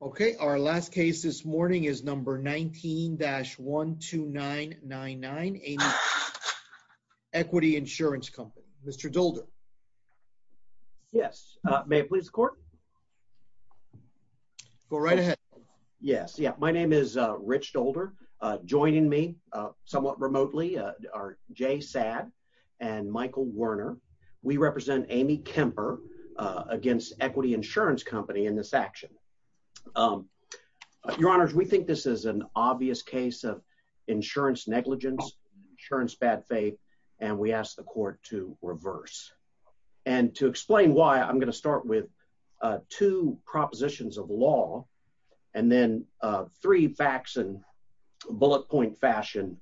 Okay, our last case this morning is number 19-12999, Equity Insurance Company. Mr. Dolder. Yes. May it please the court? Go right ahead. Yes. Yeah. My name is Rich Dolder. Joining me somewhat remotely are Jay Saad and Michael Werner. We represent Amy Kemper against Equity Insurance Company in this action. Your honors, we think this is an obvious case of insurance negligence, insurance bad faith, and we asked the court to reverse. And to explain why I'm going to start with two propositions of law, and then three facts and bullet point fashion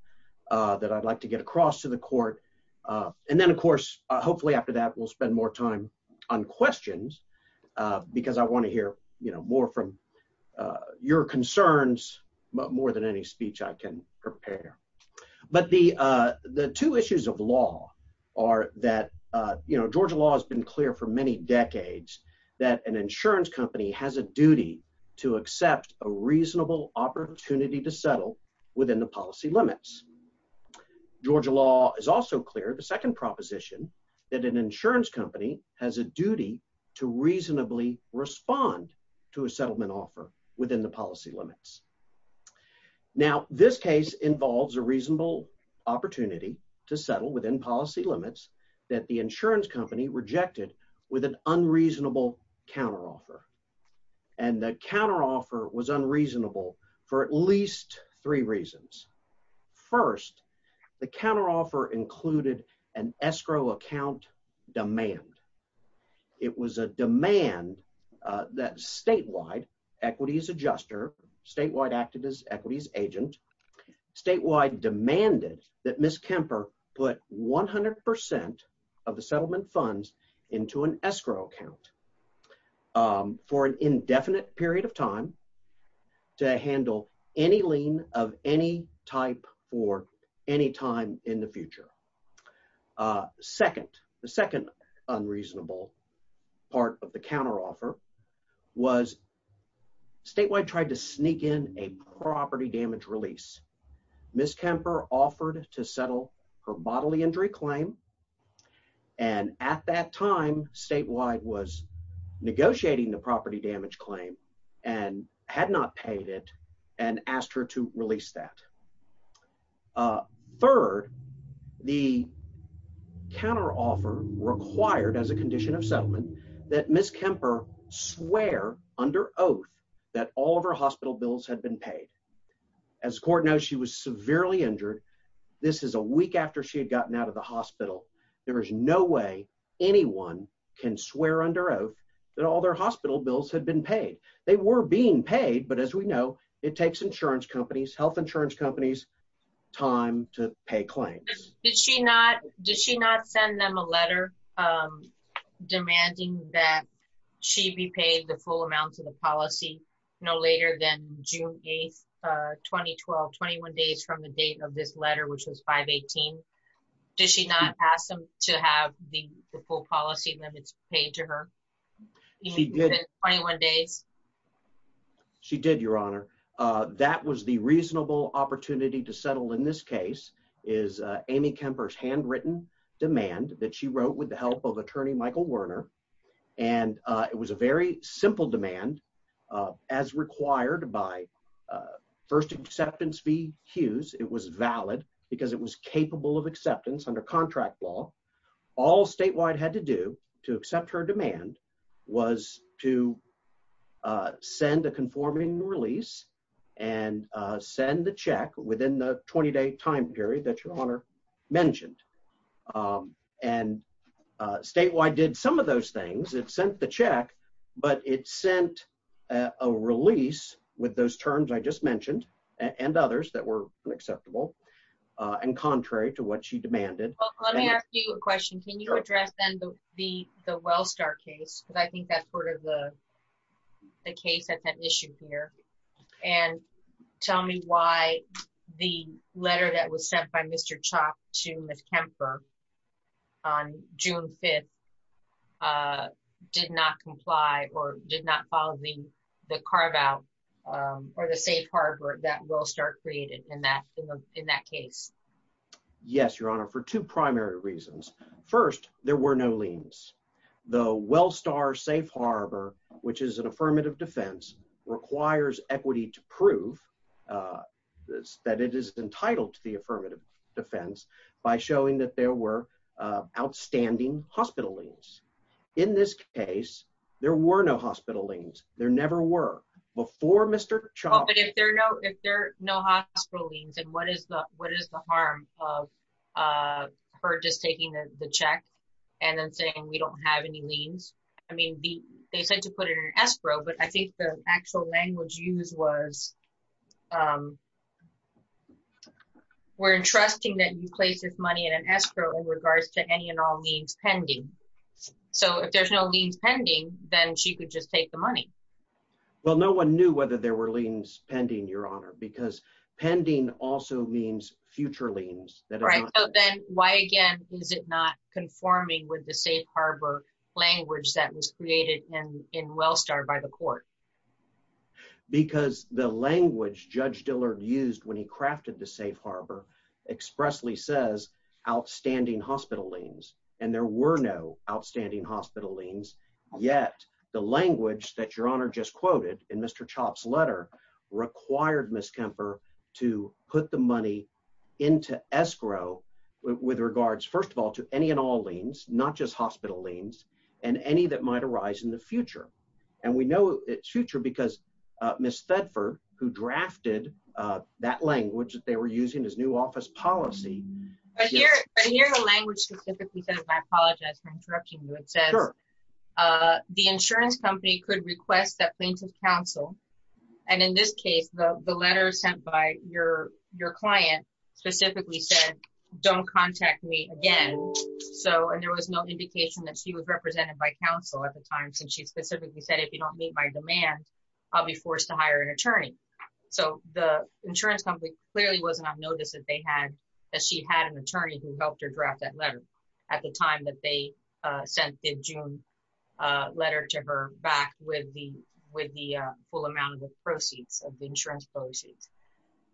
that I'd like to get across to the court. And then of course, hopefully after that, we'll I want to hear, you know, more from your concerns, but more than any speech I can prepare. But the, the two issues of law are that, you know, Georgia law has been clear for many decades, that an insurance company has a duty to accept a reasonable opportunity to settle within the policy limits. Georgia law is also clear the second proposition, that an insurance company has a duty to reasonably respond to a settlement offer within the policy limits. Now, this case involves a reasonable opportunity to settle within policy limits that the insurance company rejected with an unreasonable counteroffer. And the counteroffer was unreasonable for at least three reasons. First, the counteroffer included an escrow account demand. It was a demand that statewide equities adjuster statewide acted as equities agent statewide demanded that Miss Kemper put 100% of the settlement funds into an escrow account for an indefinite period of time to second unreasonable part of the counteroffer was statewide tried to sneak in a property damage release. Miss Kemper offered to settle her bodily injury claim. And at that time, statewide was negotiating the property damage claim and had not paid it and asked her to release that. Uh, third, the counteroffer required as a condition of settlement that Miss Kemper swear under oath that all of her hospital bills had been paid. As court knows, she was severely injured. This is a week after she had gotten out of the hospital. There is no way anyone can swear under oath that all their hospital bills had been paid. They were being paid. But as we know, it takes insurance companies, health insurance companies time to pay claims. Did she not? Did she not send them a letter, um, demanding that she be paid the full amount of the policy? No later than June 8th, 2012 21 days from the date of this letter, which was 5 18. Did she not ask them to have the full policy limits paid to her? She did 21 days. She did, Your Honor. Uh, that was the reasonable opportunity to settle. In this case is Amy Kemper's handwritten demand that she wrote with the help of attorney Michael Werner. And it was a very simple demand, uh, as required by, uh, first acceptance fee Hughes. It was valid because it was capable of to accept her demand was to, uh, send a conforming release and send the check within the 20 day time period that your honor mentioned. Um, and statewide did some of those things. It sent the check, but it sent a release with those terms I just mentioned and others that were acceptable and contrary to what she the Wellstar case. But I think that's part of the case at that issue here. And tell me why the letter that was sent by Mr Chop to Miss Kemper on June 5th, uh, did not comply or did not follow the carve out, um, or the safe harbor that will start created in that in that case. Yes, Your Honor. For two the Wellstar safe harbor, which is an affirmative defense, requires equity to prove, uh, that it is entitled to the affirmative defense by showing that there were outstanding hospitalings. In this case, there were no hospitalings. There never were before. Mr Chopping. If there are no, if there no hospitalings and what is the what is the harm of, uh, for just taking the check and then we don't have any leans. I mean, they said to put it in escrow, but I think the actual language used was, um, we're entrusting that you place this money in an escrow in regards to any and all means pending. So if there's no means pending, then she could just take the money. Well, no one knew whether there were lean spending your honor because pending also means future liens. Then why again? Is it not conforming with the safe harbor language that was created in Wellstar by the court? Because the language Judge Dillard used when he crafted the safe harbor expressly says outstanding hospitalings and there were no outstanding hospitalings. Yet the language that your honor just quoted in Mr Chop's letter required Miss Kemper to put the money into escrow with regards, first of all, to any and all liens, not just hospital liens and any that might arise in the future. And we know it's future because Miss Thetford, who drafted, uh, that language that they were using his new office policy here the language specifically says, I apologize for interrupting you. It says, uh, the insurance company could request that plaintiff's counsel. And in this case, the letter sent by your your client specifically said, Don't contact me again. So and there was no indication that she was represented by counsel at the time, since she specifically said, If you don't meet my demand, I'll be forced to hire an attorney. So the insurance company clearly was not notice that they had that she had an attorney who helped her draft that letter at the time that they sent in June letter to her back with the with the full amount of the proceeds of the insurance policies.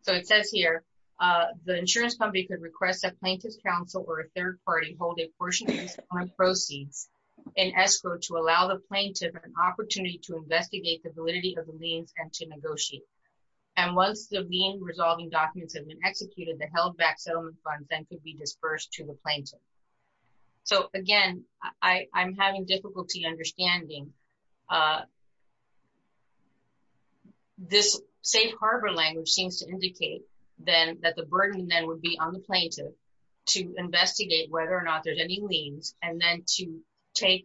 So it says here, uh, the insurance company could request that plaintiff's counsel or a third party hold a portion on proceeds in escrow to allow the plaintiff an opportunity to investigate the validity of the liens and to negotiate. And once the lien resolving documents have been executed, the held back settlement funds and could be dispersed to the plaintiff. So again, I I'm having difficulty understanding, uh, this safe harbor language seems to indicate then that the burden then would be on the plaintiff to investigate whether or not there's any liens and then to take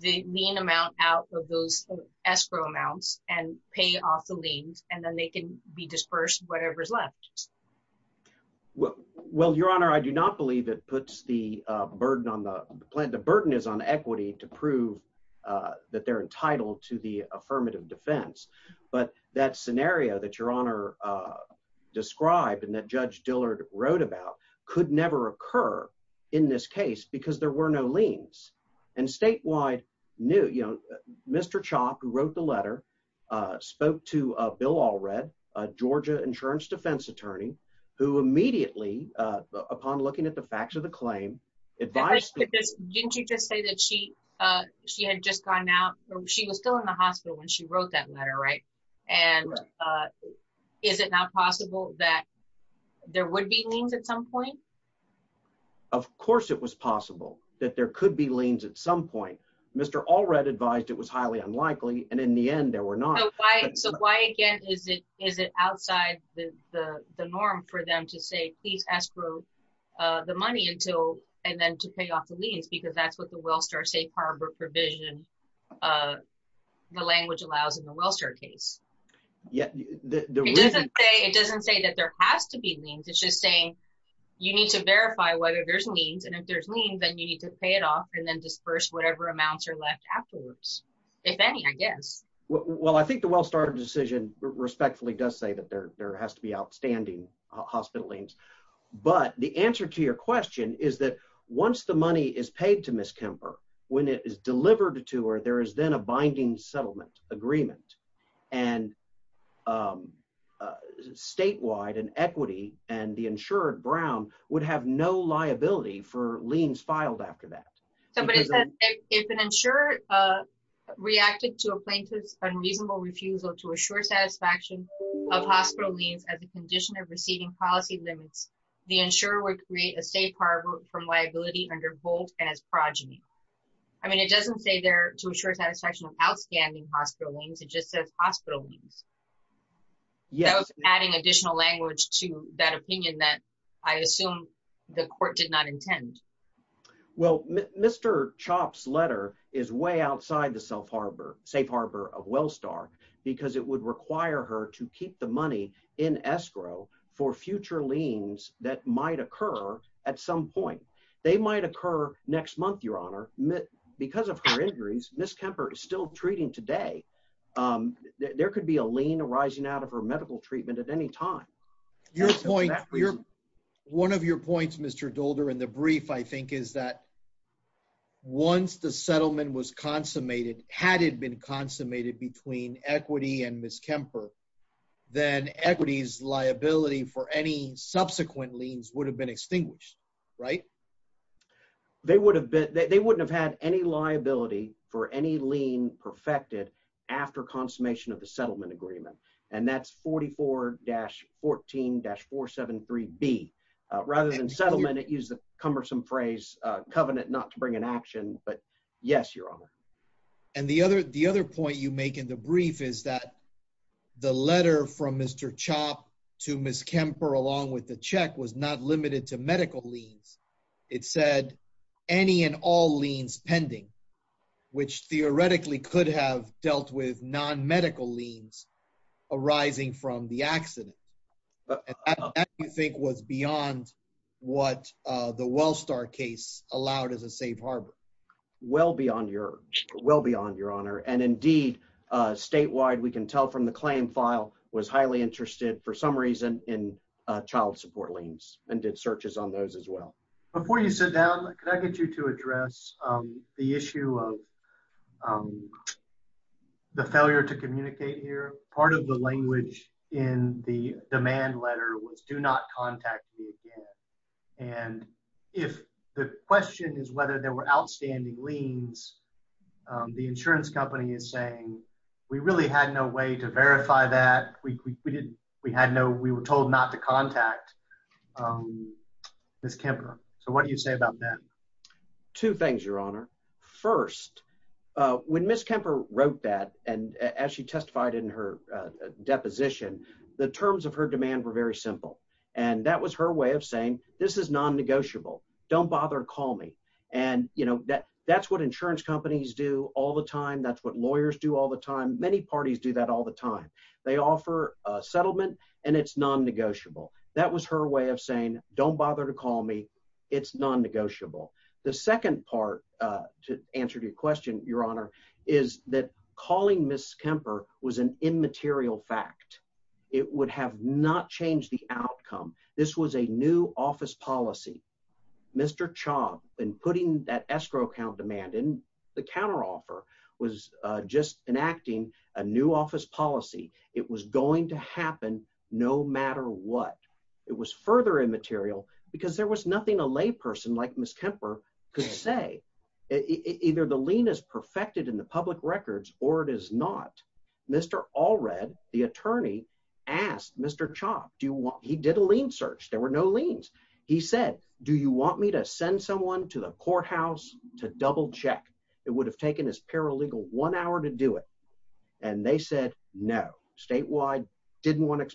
the mean amount out of those escrow amounts and pay off the liens. And then they could be dispersed. Whatever's left. Well, well, Your Honor, I do not believe it puts the burden on the plant. The burden is on equity to prove, uh, that they're entitled to the affirmative defense. But that scenario that your honor, uh, described and that Judge Dillard wrote about could never occur in this case because there were no liens and statewide new, you know, Mr Chopp, who wrote the letter, uh, spoke to Bill Allred, Georgia insurance defense attorney who immediately upon looking at the facts of the claim advice, didn't you just say that she, uh, she had just gone out. She was still in the hospital when she wrote that letter, right? And, uh, is it not possible that there would be means at some point? Of course it was possible that there could be liens at some point. Mr. Allred advised it was highly unlikely, and in the end there were not. So why again? Is it? Is it outside the norm for them to say, please ask for the money until and then to pay off the liens? Because that's what the well star safe harbor provision, uh, the language allows in the well star case. Yeah, it doesn't say that there has to be means. It's just saying you need to verify whether there's means. And if there's lean, then you need to pay it off and then disperse whatever amounts are left afterwards, if any, I guess. Well, I think the well started decision respectfully does say that there has to be outstanding hospitalings. But the answer to your question is that once the money is paid to Miss Kemper when it is delivered to her, there is then a binding settlement agreement and, um, statewide and equity and the insured Brown would have no liability for liens filed after that. Somebody said it's unsure, uh, reacted to a plaintiff's unreasonable refusal to assure satisfaction of hospital leaves at the condition of receiving policy limits. The insurer would create a safe harbor from liability under Bolt and his progeny. I mean, it doesn't say there to assure satisfaction of outstanding hospitalings. It just says hospital means yes, adding additional language to that opinion that I assume the court did not intend. Well, Mr. Chop's letter is way outside the self harbor, safe harbor of Wellstar, because it would require her to keep the money in escrow for future liens that might occur at some point. They might occur next month. Your honor, because of her injuries, Miss Kemper is still treating today. Um, there could be a lien arising out of her medical treatment at any time. Your point, one of your points, Mr Dolder in the brief, I think, is that once the settlement was consummated, had it been consummated between equity and Miss Kemper, then equities liability for any subsequent liens would have been extinguished, right? They would have been. They wouldn't have had any liability for any lien perfected after consummation of the settlement agreement, and that's 44-14 dash 473 B. Rather than settlement, it used the cumbersome phrase covenant not to bring an action. But yes, your honor. And the other the other point you make in the brief is that the letter from Mr Chop to Miss Kemper, along with the check, was not limited to medical liens. It said any and all liens pending, which theoretically could have dealt with non medical liens arising from the you think was beyond what the Wellstar case allowed as a safe harbor. Well beyond your well beyond your honor. And indeed, statewide, we can tell from the claim file was highly interested for some reason in child support liens and did searches on those as well. Before you sit down, can I get you to address the issue of um, the failure to communicate here. Part of the language in the demand letter was do not contact me again. And if the question is whether there were outstanding liens, the insurance company is saying we really had no way to verify that we didn't. We had no. We were told not to contact, um, Miss Kemper. So what do you say about that? Two things, your honor. First, uh, when Miss Kemper wrote that, and as she testified in her deposition, the terms of her demand were very simple, and that was her way of saying this is non negotiable. Don't bother. Call me. And you know that that's what insurance companies do all the time. That's what lawyers do all the time. Many parties do that all the time. They offer a settlement, and it's non negotiable. That was her way of saying, Don't bother to call me. It's non negotiable. The second part to answer your question, your honor, is that calling Miss Kemper was an immaterial fact. It would have not changed the outcome. This was a new office policy. Mr Chobb and putting that escrow count demand in the counteroffer was just enacting a new office policy. It was going to happen no matter what. It was further immaterial because there was nothing a lay person like Miss Kemper could say. Either the lien is perfected in the public records or it is not. Mr Allred, the attorney, asked Mr Chobb, Do you want? He did a lien search. There were no liens. He said, Do you want me to send someone to the courthouse to double check? It would have taken his paralegal one hour to do it. And they said no. Statewide didn't want to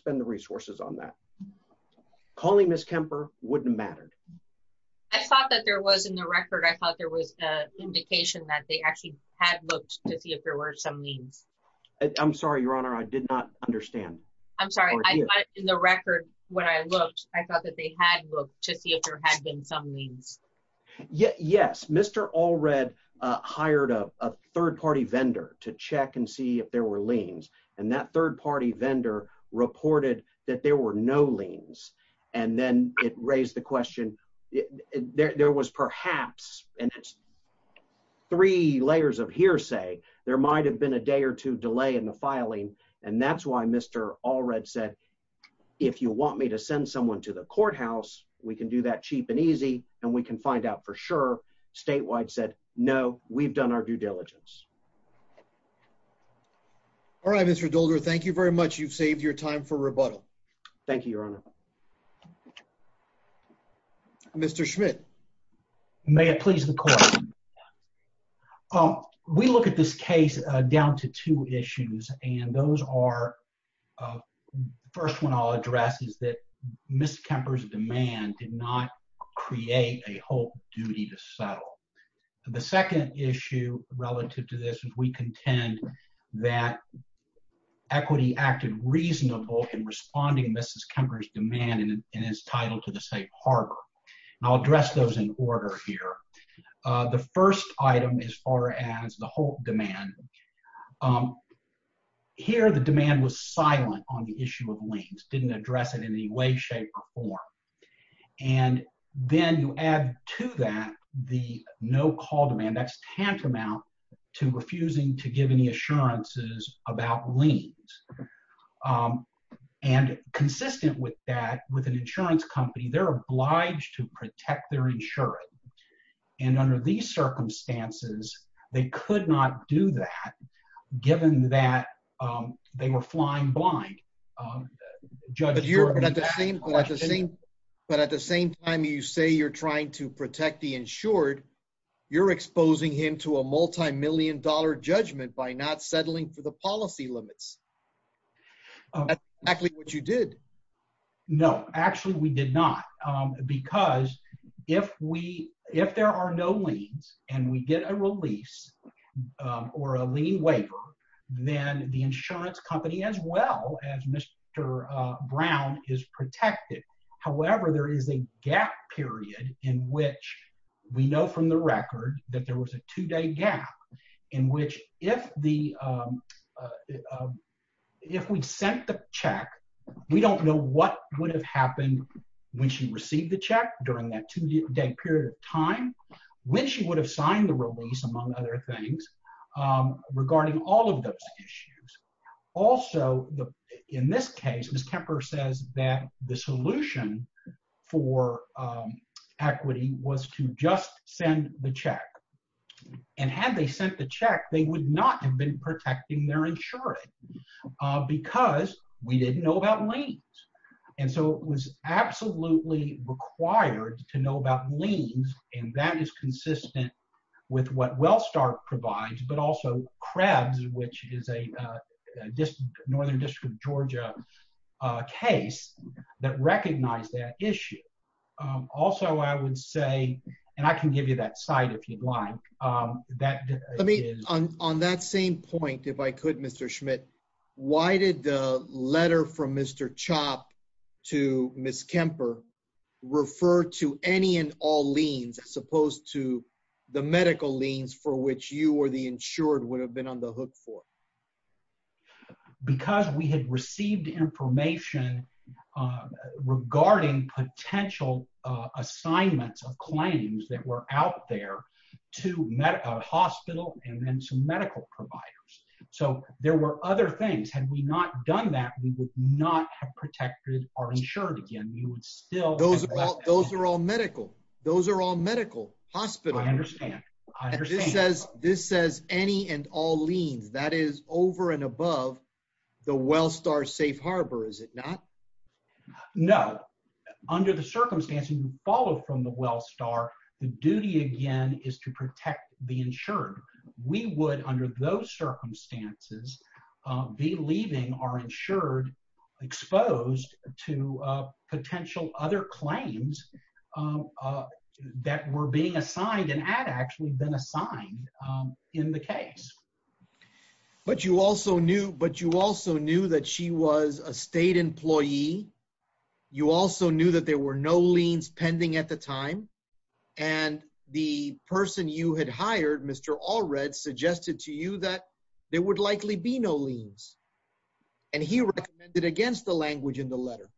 that there was in the record. I thought there was a indication that they actually had looked to see if there were some means. I'm sorry, Your honor, I did not understand. I'm sorry. In the record when I looked, I thought that they had looked to see if there had been some means. Yes, Mr Allred hired a third party vendor to check and see if there were liens and that third party vendor reported that there were no liens. And then it raised the question there was perhaps and three layers of hearsay. There might have been a day or two delay in the filing. And that's why Mr Allred said, if you want me to send someone to the courthouse, we can do that cheap and easy and we can find out for sure. Statewide said no, we've done our due diligence. All right, Mr Dolder, thank you very much. You've saved your time for rebuttal. Thank you, Your honor. Mr Schmidt, may it please the court. Um, we look at this case down to two issues, and those are, uh, first one I'll address is that Miss Kemper's demand did not create a whole duty to settle. The second issue relative to this is we contend that equity acted reasonable in responding. Mrs Kemper's demand in his title to the safe harbor I'll address those in order here. The first item is far as the whole demand. Um, here the demand was silent on the issue of liens didn't address it in any way, shape or form. And then you add to that the no call demand. That's tantamount to refusing to give any assurances about liens. Um, and consistent with that, with an insurance company, they're obliged to protect their insurance. And under these circumstances, they could not do that given that, um, they were flying blind. Um, Judge, you're not the same. But at the same time, you say you're trying to protect the insured. You're exposing him to a multimillion dollar judgment by not settling for the policy limits. That's exactly what you did. No, actually, we did not. Um, because if we if there are no leads and we get a release or a lien waiver, then the insurance company as well as Mr Brown is protected. However, there is a gap period in which we know from the record that there was a two day gap in which if the, um, uh, if we sent the check, we don't know what would have happened when she received the check during that two day period of time when she would have signed the release, among other things, um, regarding all of those issues. Also, in this case, Miss Kemper says that the solution for equity was to just send the check. And had they sent the check, they would not have been protecting their insurance because we didn't know about lanes. And so it was absolutely required to know about liens. And that is consistent with what well start provides, but also crabs, which is a Also, I would say, and I can give you that side if you'd like. Um, that on that same point, if I could, Mr Schmidt, why did the letter from Mr Chop to Miss Kemper refer to any and all liens as opposed to the medical liens for which you or the insured would have been on the hook for because we had received information, uh, regarding potential, uh, assignments of claims that were out there to medical hospital and then to medical providers. So there were other things. Had we not done that, we would not have protected are insured again. You would still those. Those are all medical. Those are all medical hospital. I understand. This says this says any and all liens. That is over and above the well star safe harbor, is it not? No. Under the circumstances, you follow from the well star. The duty again is to protect the insured. We would, under those circumstances, uh, be leaving are insured, exposed to potential other claims, uh, that were being assigned and had actually been assigned in the case. But you also knew. But you also knew that she was a state employee. You also knew that there were no liens pending at the time, and the person you had hired, Mr Allred suggested to you that there would likely be no liens, and he recommended against the language in the letter.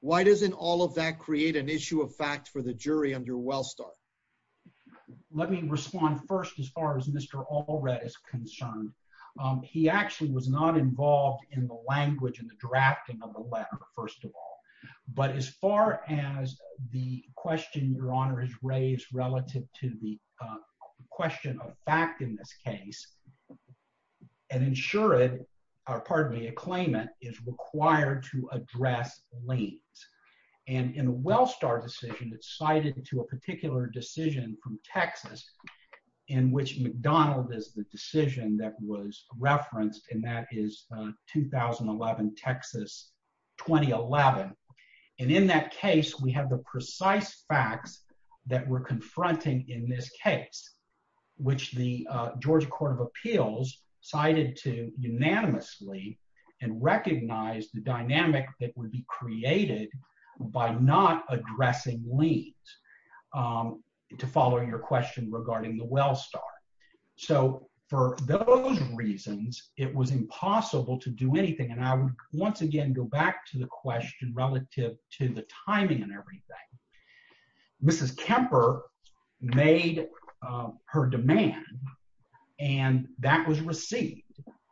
Why doesn't all of that create an issue of fact for the jury under Wellstar? Let me respond first. As far as Mr Allred is concerned, he actually was not involved in the language and the drafting of the letter, first of all. But as far as the question your honor is raised relative to the question of fact in this case and ensure it are part of the acclaim. It is required to address lanes and in Wellstar decision that cited to a particular decision from Texas in which McDonald is the decision that was referenced, and that is 2011 Texas 2011. And in that case, we have the precise facts that we're confronting in this case, which the Georgia Court of Appeals cited to unanimously and recognize the dynamic that would be created by not addressing liens. Um, to follow your question regarding the Wellstar. So for those reasons, it was impossible to do anything. And I would once again go back to the question relative to the timing and everything. Mrs Kemper made her demand, and that was received,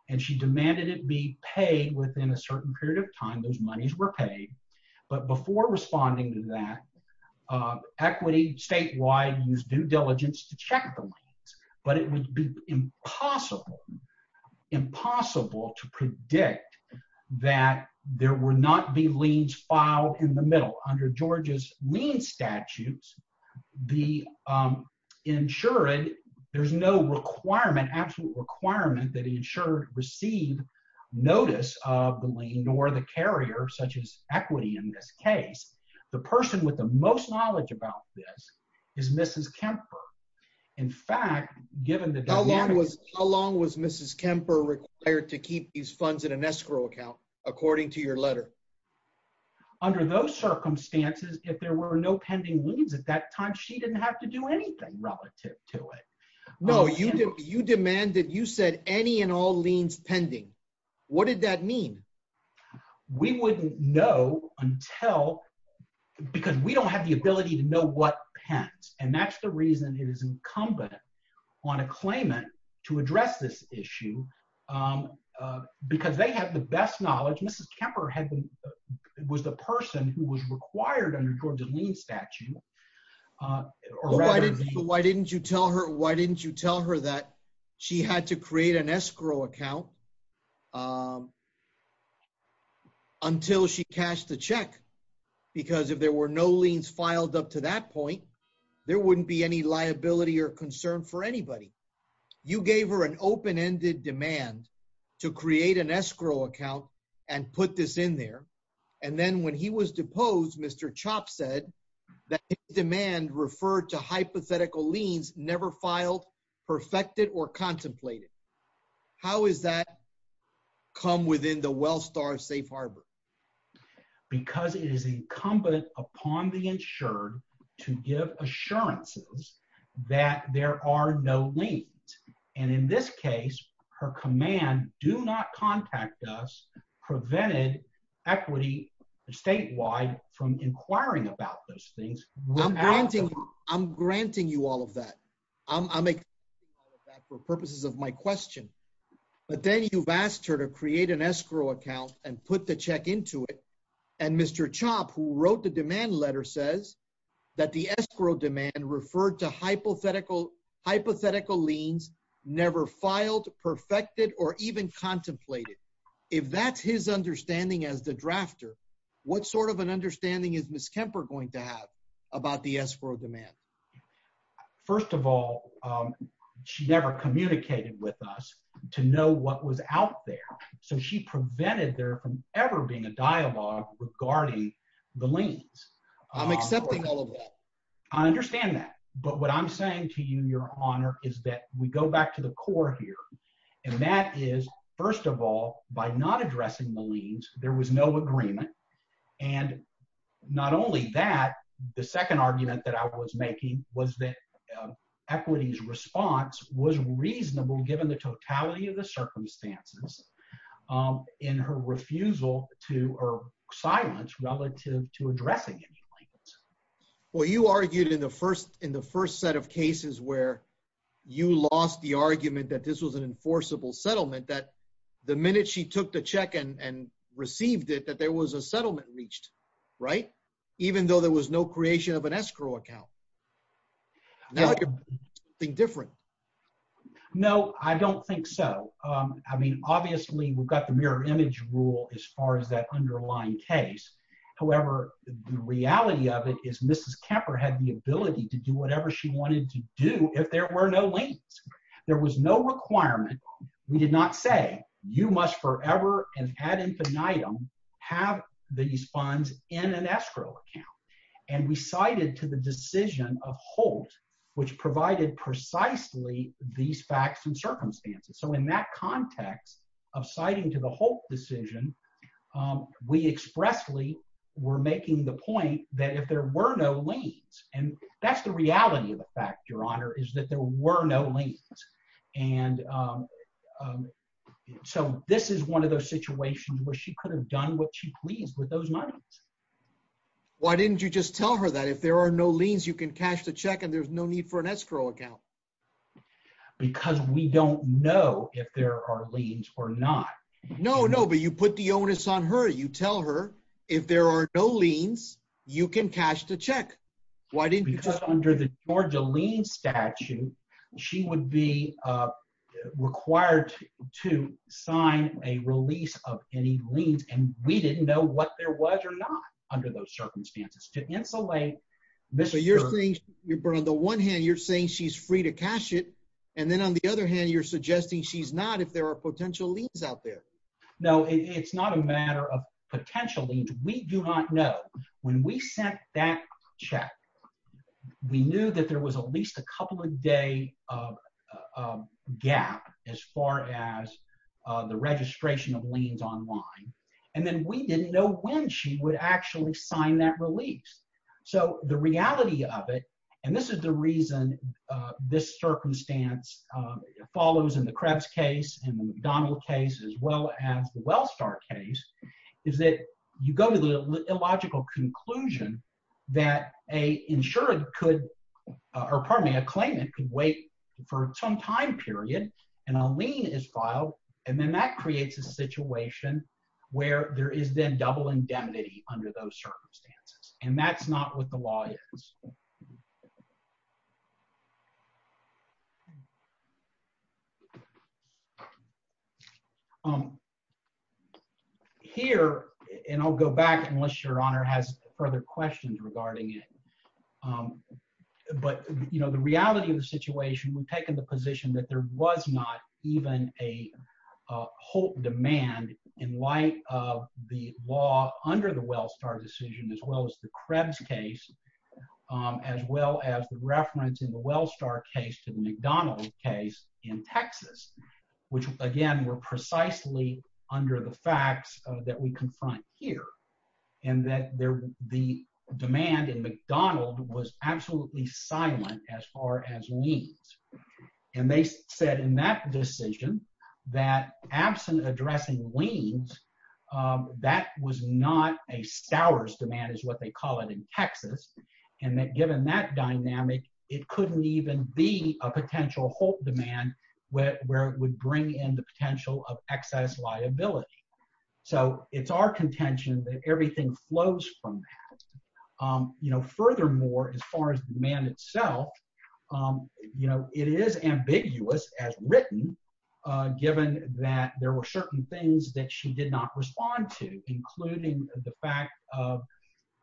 and she demanded it be paid within a certain period of time. Those monies were paid. But before responding to that, uh, equity statewide used due diligence to check the lanes. But it would be impossible, impossible to predict that there were not be leads filed in the middle under Georgia's lean statutes. The, um, insured. There's no requirement. Absolute requirement that insured received notice of the lane or the carrier, such as equity. In this case, the person with the most knowledge about this is Mrs Kemper. In fact, given the how long was how long was Mrs Kemper required to keep these funds in an escrow account? According to your letter under those circumstances, if there were no pending leads at that time, she demanded. You said any and all leans pending. What did that mean? We wouldn't know until because we don't have the ability to know what pens, and that's the reason it is incumbent on a claimant to address this issue. Um, because they have the best knowledge. Mrs Kemper had was the person who was required under Georgia lean statute. Uh, why didn't you tell her? Why didn't you tell her that she had to create an escrow account? Um, until she cashed the check? Because if there were no leans filed up to that point, there wouldn't be any liability or concern for anybody. You gave her an open ended demand to create an escrow account and put this in there. And then when he was deposed, Mr Chop said that demand referred to hypothetical leans never filed, perfected or contemplated. How is that come within the well star safe harbor? Because it is incumbent upon the insured to give assurances that there are no leads. And in this case, her command do not contact us. Prevented equity statewide from inquiring about those things. I'm granting you all of that. I'm I'm a for purposes of my question. But then you've asked her to create an escrow account and put the check into it. And Mr Chop, who wrote the demand letter, says that the escrow demand referred to hypothetical hypothetical leans never filed, perfected or even contemplated. If that's his understanding as the drafter, what sort of an understanding is Miss Kemper going to have about the escrow demand? First of all, she never communicated with us to know what was out there. So she prevented there from ever being a dialogue regarding the lanes. I'm accepting all of that. I understand that. But what I'm saying to you, Your Honor, is that we go back to the core here, and that is, first of all, by not addressing the leans, there was no agreement. And not only that, the second argument that I was making was that equity's response was reasonable given the totality of the circumstances in her refusal to or silence relative to addressing it. Well, you argued in the first in the first set of cases where you lost the took the check and received it, that there was a settlement reached, right? Even though there was no creation of an escrow account. Now, I could think different. No, I don't think so. I mean, obviously, we've got the mirror image rule as far as that underlying case. However, the reality of it is Mrs. Kemper had the ability to do whatever she wanted to do if there were no lanes. There was no requirement. We did not say you must forever and ad infinitum have these funds in an escrow account, and we cited to the decision of Holt, which provided precisely these facts and circumstances. So in that context of citing to the whole decision, we expressly were making the point that if there were no lanes, and that's the reality of the fact, Your Honor, is that there were no lanes. And so this is one of those situations where she could have done what she please with those moneys. Why didn't you just tell her that if there are no lanes, you can cash the check and there's no need for an escrow account? Because we don't know if there are lanes or not. No, no, but you put the onus on her. You tell her, if there are no lanes, you can cash the check. Why didn't you? Because under the Georgia lien statute, she would be required to sign a release of any liens, and we didn't know what there was or not under those circumstances to insulate. So you're saying, on the one hand, you're saying she's free to cash it. And then on the other hand, you're suggesting she's not if there are potential liens out there. No, it's not a matter of potential liens. We do not know. When we sent that check, we knew that there was at least a couple of day of gap as far as the registration of liens online. And then we didn't know when she would actually sign that release. So the reality of it, and this is the reason this circumstance follows in the Krebs case and the McDonald case, as well as the Wellstar case, is that you go to the illogical conclusion that an insured could, or pardon me, a claimant could wait for some time period and a lien is filed, and then that creates a situation where there is then double indemnity under those circumstances. And that's not what the law is. Here, and I'll go back unless your honor has further questions regarding it, but, you know, the reality of the situation, we've taken the position that there was not even a whole demand in light of the law under the Wellstar decision, as well as the Krebs case, as well as the reference in the Wellstar case to the McDonald case in Texas, which again, were precisely under the facts that we confront here, and that the demand in McDonald was absolutely silent as far as liens. And they said in that decision, that absent addressing liens, that was what they call it in Texas. And that given that dynamic, it couldn't even be a potential hope demand, where it would bring in the potential of excess liability. So it's our contention that everything flows from that. You know, furthermore, as far as the demand itself, you know, it is ambiguous as written, given that there were certain things that she did not respond to, including the fact of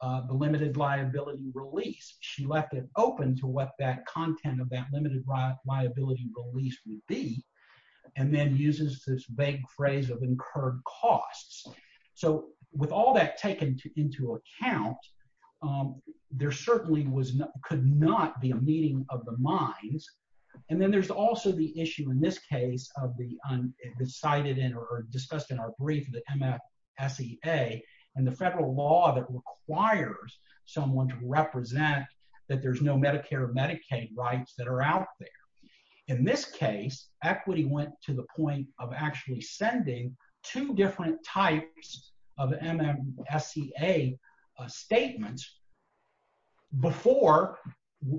the limited liability release, she left it open to what that content of that limited liability release would be, and then uses this vague phrase of incurred costs. So with all that taken into account, there certainly could not be a meeting of the minds. And then there's also the issue in this case of the cited in or discussed in our brief, the MFSEA, and the federal law that requires someone to represent that there's no Medicare or Medicaid rights that are out there. In this case, equity went to the point of actually sending two different types of MFSEA statements before,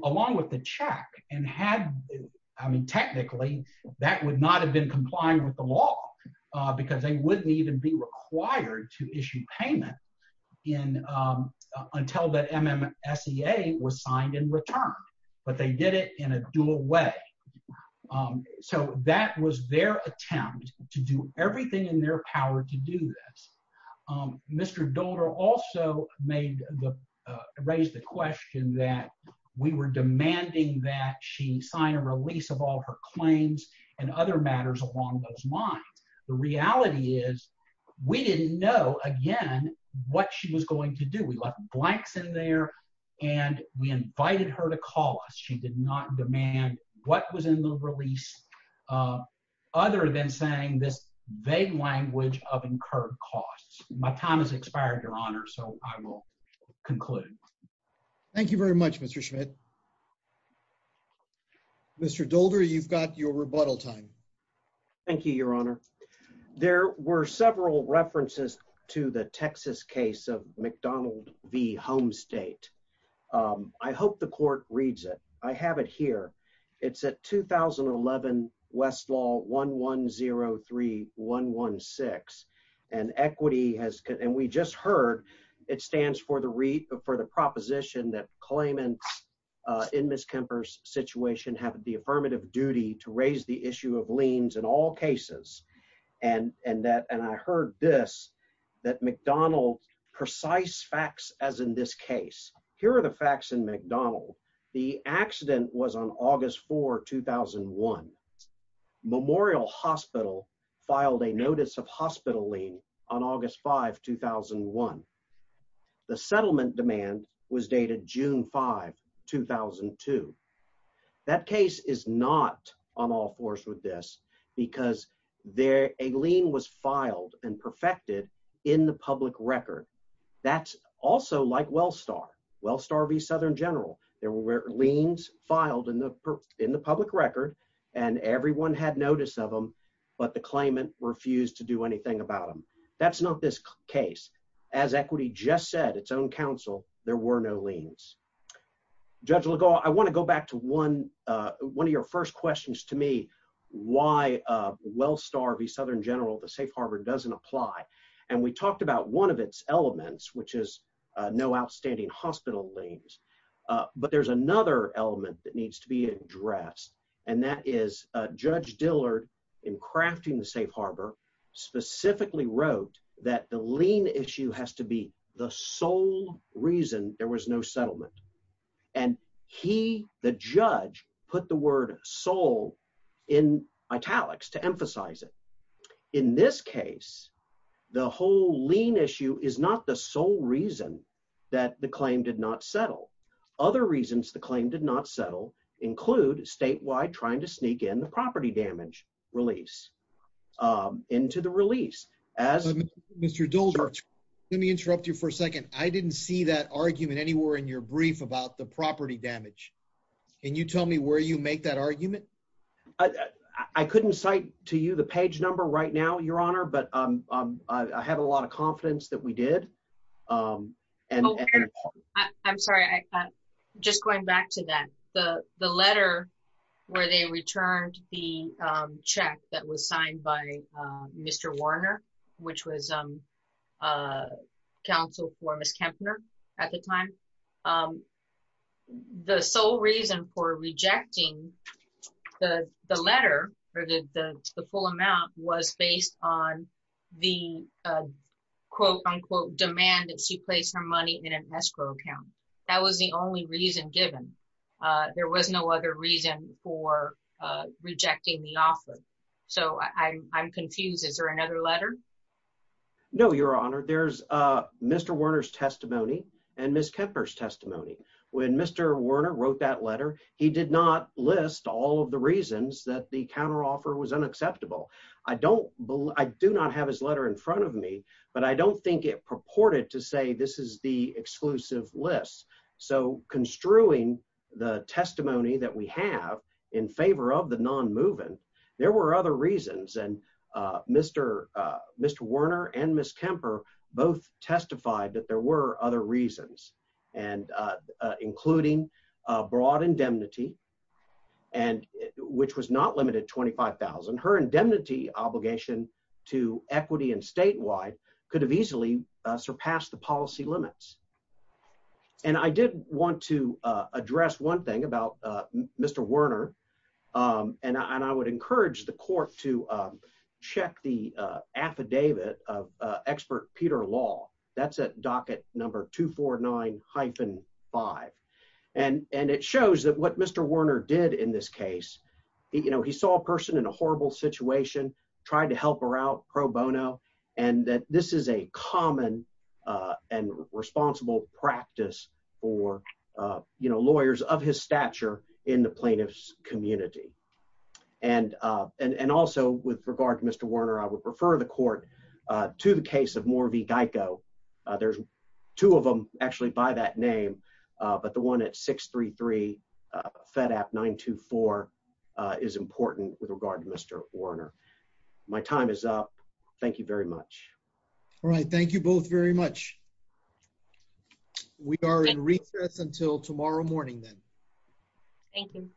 along with the check and had, I would not have been complying with the law, because they wouldn't even be required to issue payment in until the MFSEA was signed in return, but they did it in a dual way. So that was their attempt to do everything in their power to do this. Mr. Dolder also made the raised the question that we were matters along those lines. The reality is we didn't know again what she was going to do. We left blanks in there, and we invited her to call us. She did not demand what was in the release other than saying this vague language of incurred costs. My time has expired, Your Honor, so I will conclude. Thank you very much, Mr Schmidt. Mr Dolder, you've got your rebuttal time. Thank you, Your Honor. There were several references to the Texas case of McDonald v. Home State. Um, I hope the court reads it. I have it here. It's a 2011 Westlaw 1103116 and equity has and we just heard it stands for the re for the proposition that claimants in Miss Kemper's situation have the affirmative duty to raise the issue of liens in all cases. And and that and I heard this that McDonald precise facts as in this case. Here are the facts in McDonald. The accident was on August 4 2001 Memorial Hospital filed a notice of hospital lean on August 5 2001. The settlement demand was dated June 5 2000 and two. That case is not on all fours with this because there a lien was filed and perfected in the public record. That's also like Wellstar Wellstar v Southern General. There were liens filed in the in the public record, and everyone had notice of him. But the claimant refused to do anything about him. That's not this case. As equity just said its own counsel, there were no liens. Judge Legault, I want to go back to one one of your first questions to me. Why Wellstar v Southern General, the safe Harvard doesn't apply. And we talked about one of its elements, which is no outstanding hospital lanes. But there's another element that needs to be addressed, and that is Judge Dillard in crafting the safe harbor specifically wrote that the lien issue has to be the sole reason there was no settlement. And he the judge put the word soul in italics to emphasize it. In this case, the whole lien issue is not the sole reason that the claim did not settle. Other reasons the claim did not settle include statewide trying to sneak in the property damage release, um, into the release as Mr Dole. Let me interrupt you for a second. I didn't see that argument anywhere in your brief about the property damage. Can you tell me where you make that argument? I couldn't cite to you the page number right now, Your Honor. But I have a lot of confidence that we did. Um, and I'm sorry. I just going back to that the letter where they returned the check that was signed by Mr Warner, which was, um, uh, counsel for Miss Kempner at the time. Um, the sole reason for rejecting the letter or the full amount was based on the quote unquote demand that she placed her money in an escrow account. That was the only reason given. Uh, there was no other reason for rejecting the offer. So I'm confused. Is there another letter? No, Your Honor. There's, uh, Mr Warner's testimony and Miss Kempner's list. All of the reasons that the counter offer was unacceptable. I don't I do not have his letter in front of me, but I don't think it purported to say this is the exclusive list. So construing the testimony that we have in favor of the non moving, there were other reasons. And, uh, Mr Mr Warner and Miss Kemper both testified that there were other reasons and, uh, broad indemnity and which was not limited 25,000. Her indemnity obligation to equity and statewide could have easily surpassed the policy limits. And I did want to address one thing about Mr Warner. Um, and I would encourage the court to, um, check the affidavit of expert Peter Law. That's docket number 249 hyphen five. And and it shows that what Mr Warner did in this case, you know, he saw a person in a horrible situation, tried to help her out pro bono, and that this is a common, uh, and responsible practice for, uh, you know, lawyers of his stature in the plaintiff's community. And, uh, and and also with regard to Mr Warner, I would prefer the court to the case of more of the Geico. There's two of them actually by that name. But the one at 633 Fed app 9 to 4 is important with regard to Mr Warner. My time is up. Thank you very much. All right. Thank you both very much. We are in recess until tomorrow morning, then. Thank you.